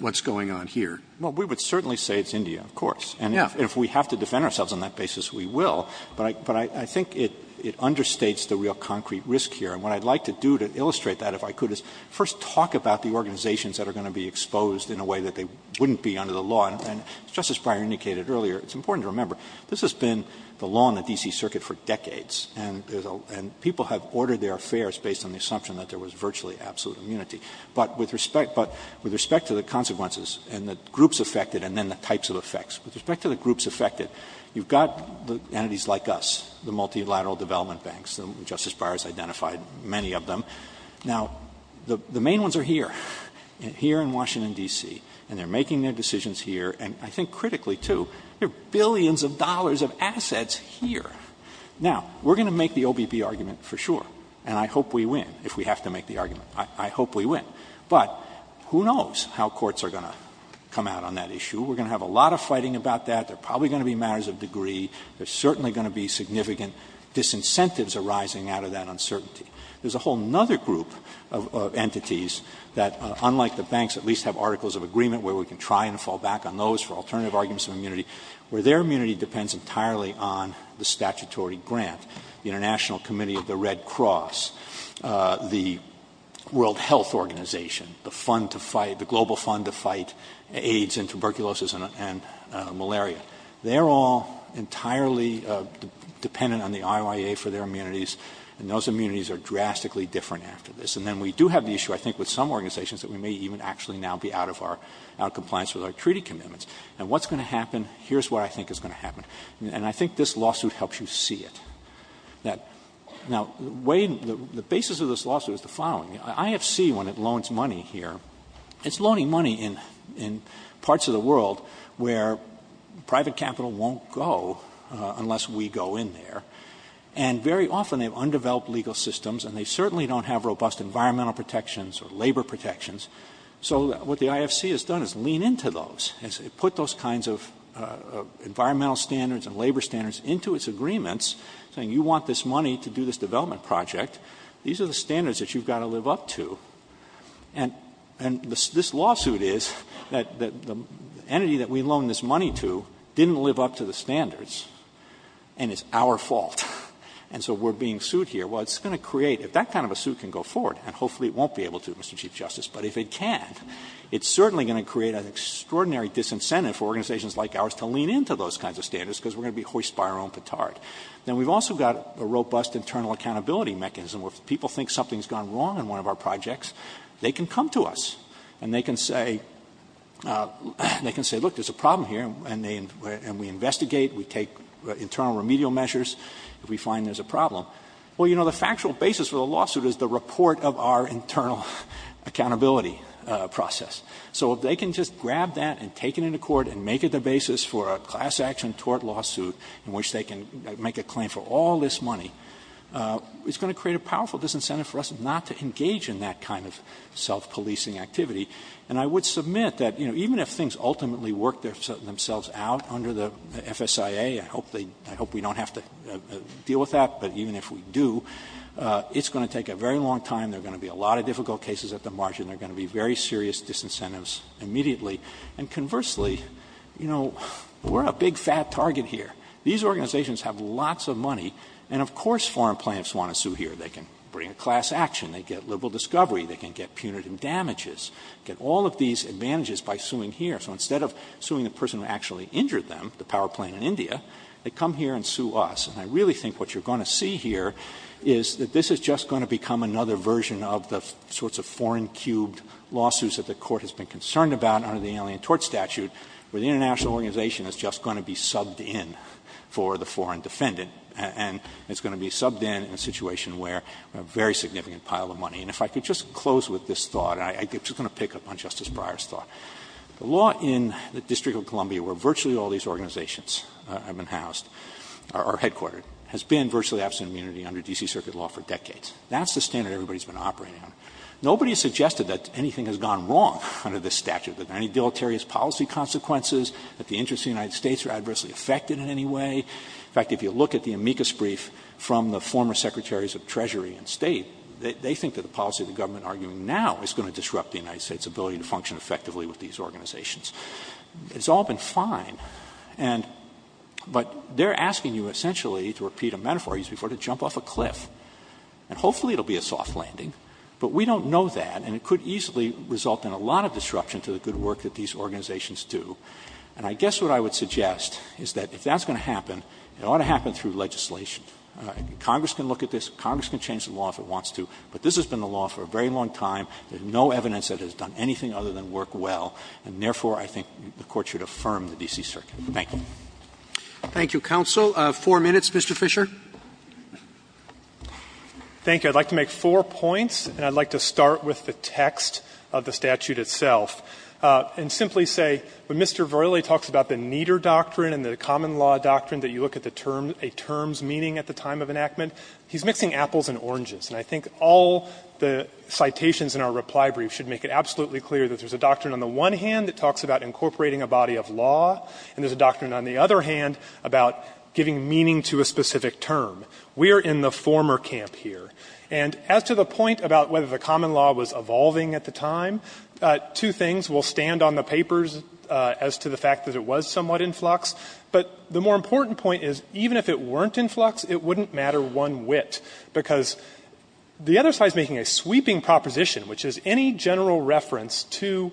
what's going on here? Well, we would certainly say it's India, of course. And if we have to defend ourselves on that basis, we will. But I think it understates the real concrete risk here. And what I'd like to do to illustrate that, if I could, is first talk about the organizations that are going to be exposed in a way that they wouldn't be under the law. And Justice Breyer indicated earlier, it's important to remember, this has been the law in the D.C. Circuit for decades. And people have ordered their affairs based on the assumption that there was virtually absolute immunity. But with respect to the consequences and the groups affected and then the types of effects, with respect to the groups affected, you've got entities like us, the multilateral development banks. Justice Breyer has identified many of them. Now, the main ones are here, here in Washington, D.C., and they're making their decisions here, and I think critically, too. There are billions of dollars of assets here. Now, we're going to make the OBB argument for sure, and I hope we win, if we have to make the argument. I hope we win. But who knows how courts are going to come out on that issue. We're going to have a lot of fighting about that. There are probably going to be matters of degree. There are certainly going to be significant disincentives arising out of that uncertainty. There's a whole other group of entities that, unlike the banks, at least have articles of agreement where we can try and fall back on those for alternative arguments of immunity, where their immunity depends entirely on the statutory grant, the International Committee of the Red Cross, the World Health Organization, the fund to fight, the global fund to fight AIDS and tuberculosis and malaria. They're all entirely dependent on the IOIA for their immunities, and those immunities are drastically different after this. And then we do have the issue, I think, with some organizations that we may even actually now be out of our compliance with our treaty commitments. And what's going to happen, here's what I think is going to happen. And I think this lawsuit helps you see it. Now, the way the basis of this lawsuit is the following. The IFC, when it loans money here, it's loaning money in parts of the world where private capital won't go unless we go in there. And very often they've undeveloped legal systems, and they certainly don't have robust environmental protections or labor protections. So what the IFC has done is lean into those and put those kinds of environmental standards and labor standards into its agreements, saying you want this money to do this development project. These are the standards that you've got to live up to. And this lawsuit is that the entity that we loaned this money to didn't live up to the standards, and it's our fault. And so we're being sued here. Well, it's going to create, if that kind of a suit can go forward, and hopefully it won't be able to, Mr. Chief Justice, but if it can, it's certainly going to create an extraordinary disincentive for organizations like ours to lean into those kinds of standards because we're going to be hoist by our own petard. Then we've also got a robust internal accountability mechanism where if people think something's gone wrong in one of our projects, they can come to us, and they can say, look, there's a problem here, and we investigate, we take internal remedial measures if we find there's a problem. Well, you know, the factual basis for the lawsuit is the report of our internal accountability process. So if they can just grab that and take it into court and make it the basis for a class action tort lawsuit in which they can make a claim for all this money, it's going to create a powerful disincentive for us not to engage in that kind of self-policing activity. And I would submit that, you know, even if things ultimately work themselves out under the FSIA, I hope we don't have to deal with that, but even if we do, it's going to take a very long time. There are going to be a lot of difficult cases at the margin. There are going to be very serious disincentives immediately. And conversely, you know, we're a big, fat target here. These organizations have lots of money, and of course foreign plaintiffs want to sue here. They can bring a class action. They get liberal discovery. They can get punitive damages, get all of these advantages by suing here. So instead of suing the person who actually injured them, the power plane in India, they come here and sue us. And I really think what you're going to see here is that this is just going to become another version of the sorts of foreign-cubed lawsuits that the Court has been concerned about under the Alien Tort Statute, where the international organization is just going to be subbed in for the foreign defendant, and it's going to be subbed in in a situation where we have a very significant pile of money. And if I could just close with this thought, and I'm just going to pick up on Justice Breyer's thought. The law in the District of Columbia, where virtually all these organizations have been housed or headquartered, has been virtually absent of immunity under D.C. Circuit law for decades. That's the standard everybody's been operating on. Nobody has suggested that anything has gone wrong under this statute, that there are any deleterious policy consequences, that the interests of the United States are adversely affected in any way. In fact, if you look at the amicus brief from the former Secretaries of Treasury and State, they think that the policy the government is arguing now is going to disrupt the United States' ability to function effectively with these organizations. It's all been fine, but they're asking you, essentially, to repeat a metaphor used before, to jump off a cliff. And hopefully it will be a soft landing, but we don't know that, and it could easily result in a lot of disruption to the good work that these organizations do. And I guess what I would suggest is that if that's going to happen, it ought to happen through legislation. Congress can look at this. Congress can change the law if it wants to. But this has been the law for a very long time. There's no evidence that it has done anything other than work well, and therefore I think the Court should affirm the D.C. Circuit. Thank you. Roberts. Thank you, counsel. Four minutes, Mr. Fisher. Fisher. Fisher. Thank you. I'd like to make four points, and I'd like to start with the text of the statute itself and simply say, when Mr. Verrilli talks about the Nieder doctrine and the common law doctrine that you look at the term --"a term's meaning at the time of enactment," he's mixing apples and oranges. And I think all the citations in our reply brief should make it absolutely clear that there's a doctrine on the one hand that talks about incorporating a body of law, and there's a doctrine on the other hand about giving meaning to a specific term. We're in the former camp here. And as to the point about whether the common law was evolving at the time, two things will stand on the papers as to the fact that it was somewhat in flux. But the more important point is, even if it weren't in flux, it wouldn't matter one whit, because the other side is making a sweeping proposition, which is any general reference to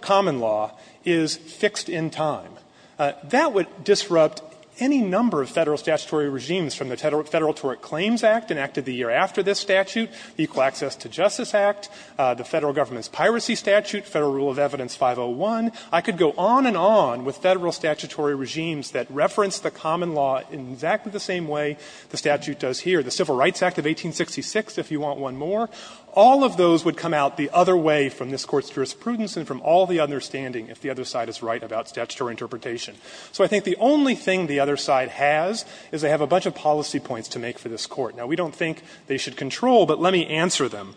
common law is fixed in time. That would disrupt any number of federal statutory regimes from the Federal Tort Claims Act enacted the year after this statute, Equal Access to Justice Act, the Federal Government's Piracy Statute, Federal Rule of Evidence 501. I could go on and on with federal statutory regimes that reference the common law in exactly the same way the statute does here, the Civil Rights Act of 1866, if you want one more. All of those would come out the other way from this Court's jurisprudence and from all the understanding if the other side is right about statutory interpretation. So I think the only thing the other side has is they have a bunch of policy points to make for this Court. Now, we don't think they should control, but let me answer them.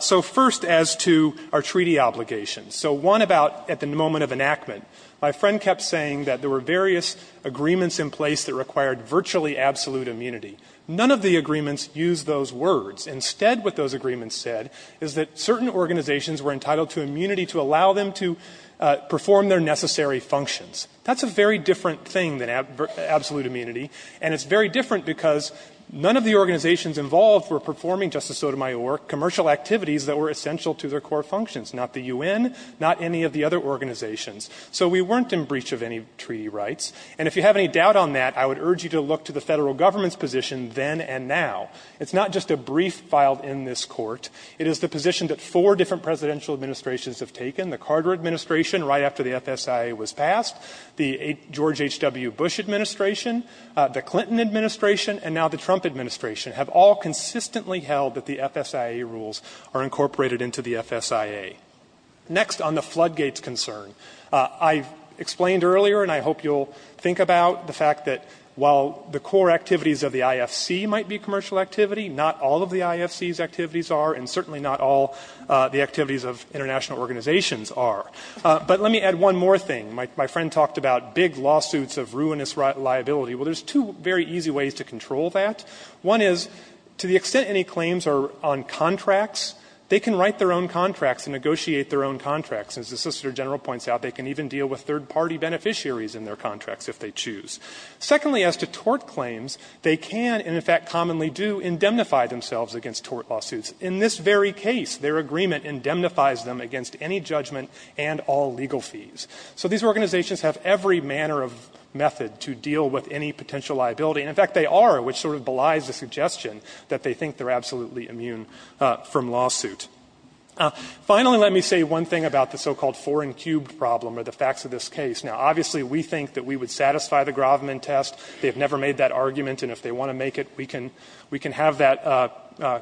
So first, as to our treaty obligations. So one about at the moment of enactment, my friend kept saying that there were various agreements in place that required virtually absolute immunity. None of the agreements used those words. Instead, what those agreements said is that certain organizations were entitled to immunity to allow them to perform their necessary functions. That's a very different thing than absolute immunity, and it's very different because none of the organizations involved were performing, Justice Sotomayor, commercial activities that were essential to their core functions, not the U.N., not any of the other organizations. So we weren't in breach of any treaty rights, and if you have any doubt on that, I would urge you to look to the federal government's position then and now. It's not just a brief filed in this Court. It is the position that four different presidential administrations have taken, the Carter administration right after the FSIA was passed, the George H.W. Bush administration, the Clinton administration, and now the Trump administration have all consistently held that the FSIA rules are incorporated into the FSIA. Next, on the floodgates concern, I explained earlier, and I hope you'll think about the fact that while the core activities of the IFC might be commercial activity, not all of the IFC's activities are, and certainly not all the activities of international organizations are. But let me add one more thing. My friend talked about big lawsuits of ruinous liability. Well, there's two very easy ways to control that. One is, to the extent any claims are on contracts, they can write their own contracts and negotiate their own contracts. As the Solicitor General points out, they can even deal with third-party beneficiaries in their contracts if they choose. Secondly, as to tort claims, they can, and in fact commonly do, indemnify themselves against tort lawsuits. In this very case, their agreement indemnifies them against any judgment and all legal fees. So these organizations have every manner of method to deal with any potential liability. And in fact, they are, which sort of belies the suggestion that they think they're absolutely immune from lawsuit. Finally, let me say one thing about the so-called four-and-cubed problem, or the facts of this case. Now, obviously, we think that we would satisfy the Grovman test. They have never made that argument, and if they want to make it, we can have that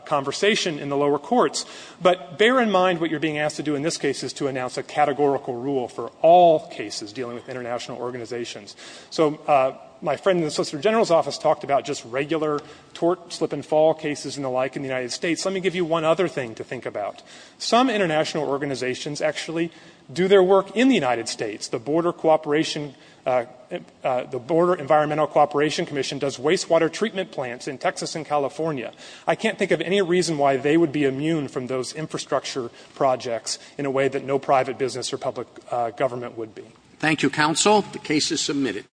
conversation in the lower courts. But bear in mind what you're being asked to do in this case is to announce a categorical rule for all cases dealing with international organizations. So my friend in the Solicitor General's office talked about just regular tort slip-and-fall cases and the like in the United States. Let me give you one other thing to think about. Some international organizations actually do their work in the United States. The Border Cooperation — the Border Environmental Cooperation Commission does wastewater treatment plants in Texas and California. I can't think of any reason why they would be immune from those infrastructure projects in a way that no private business or public government would be. Roberts. Thank you, counsel. The case is submitted.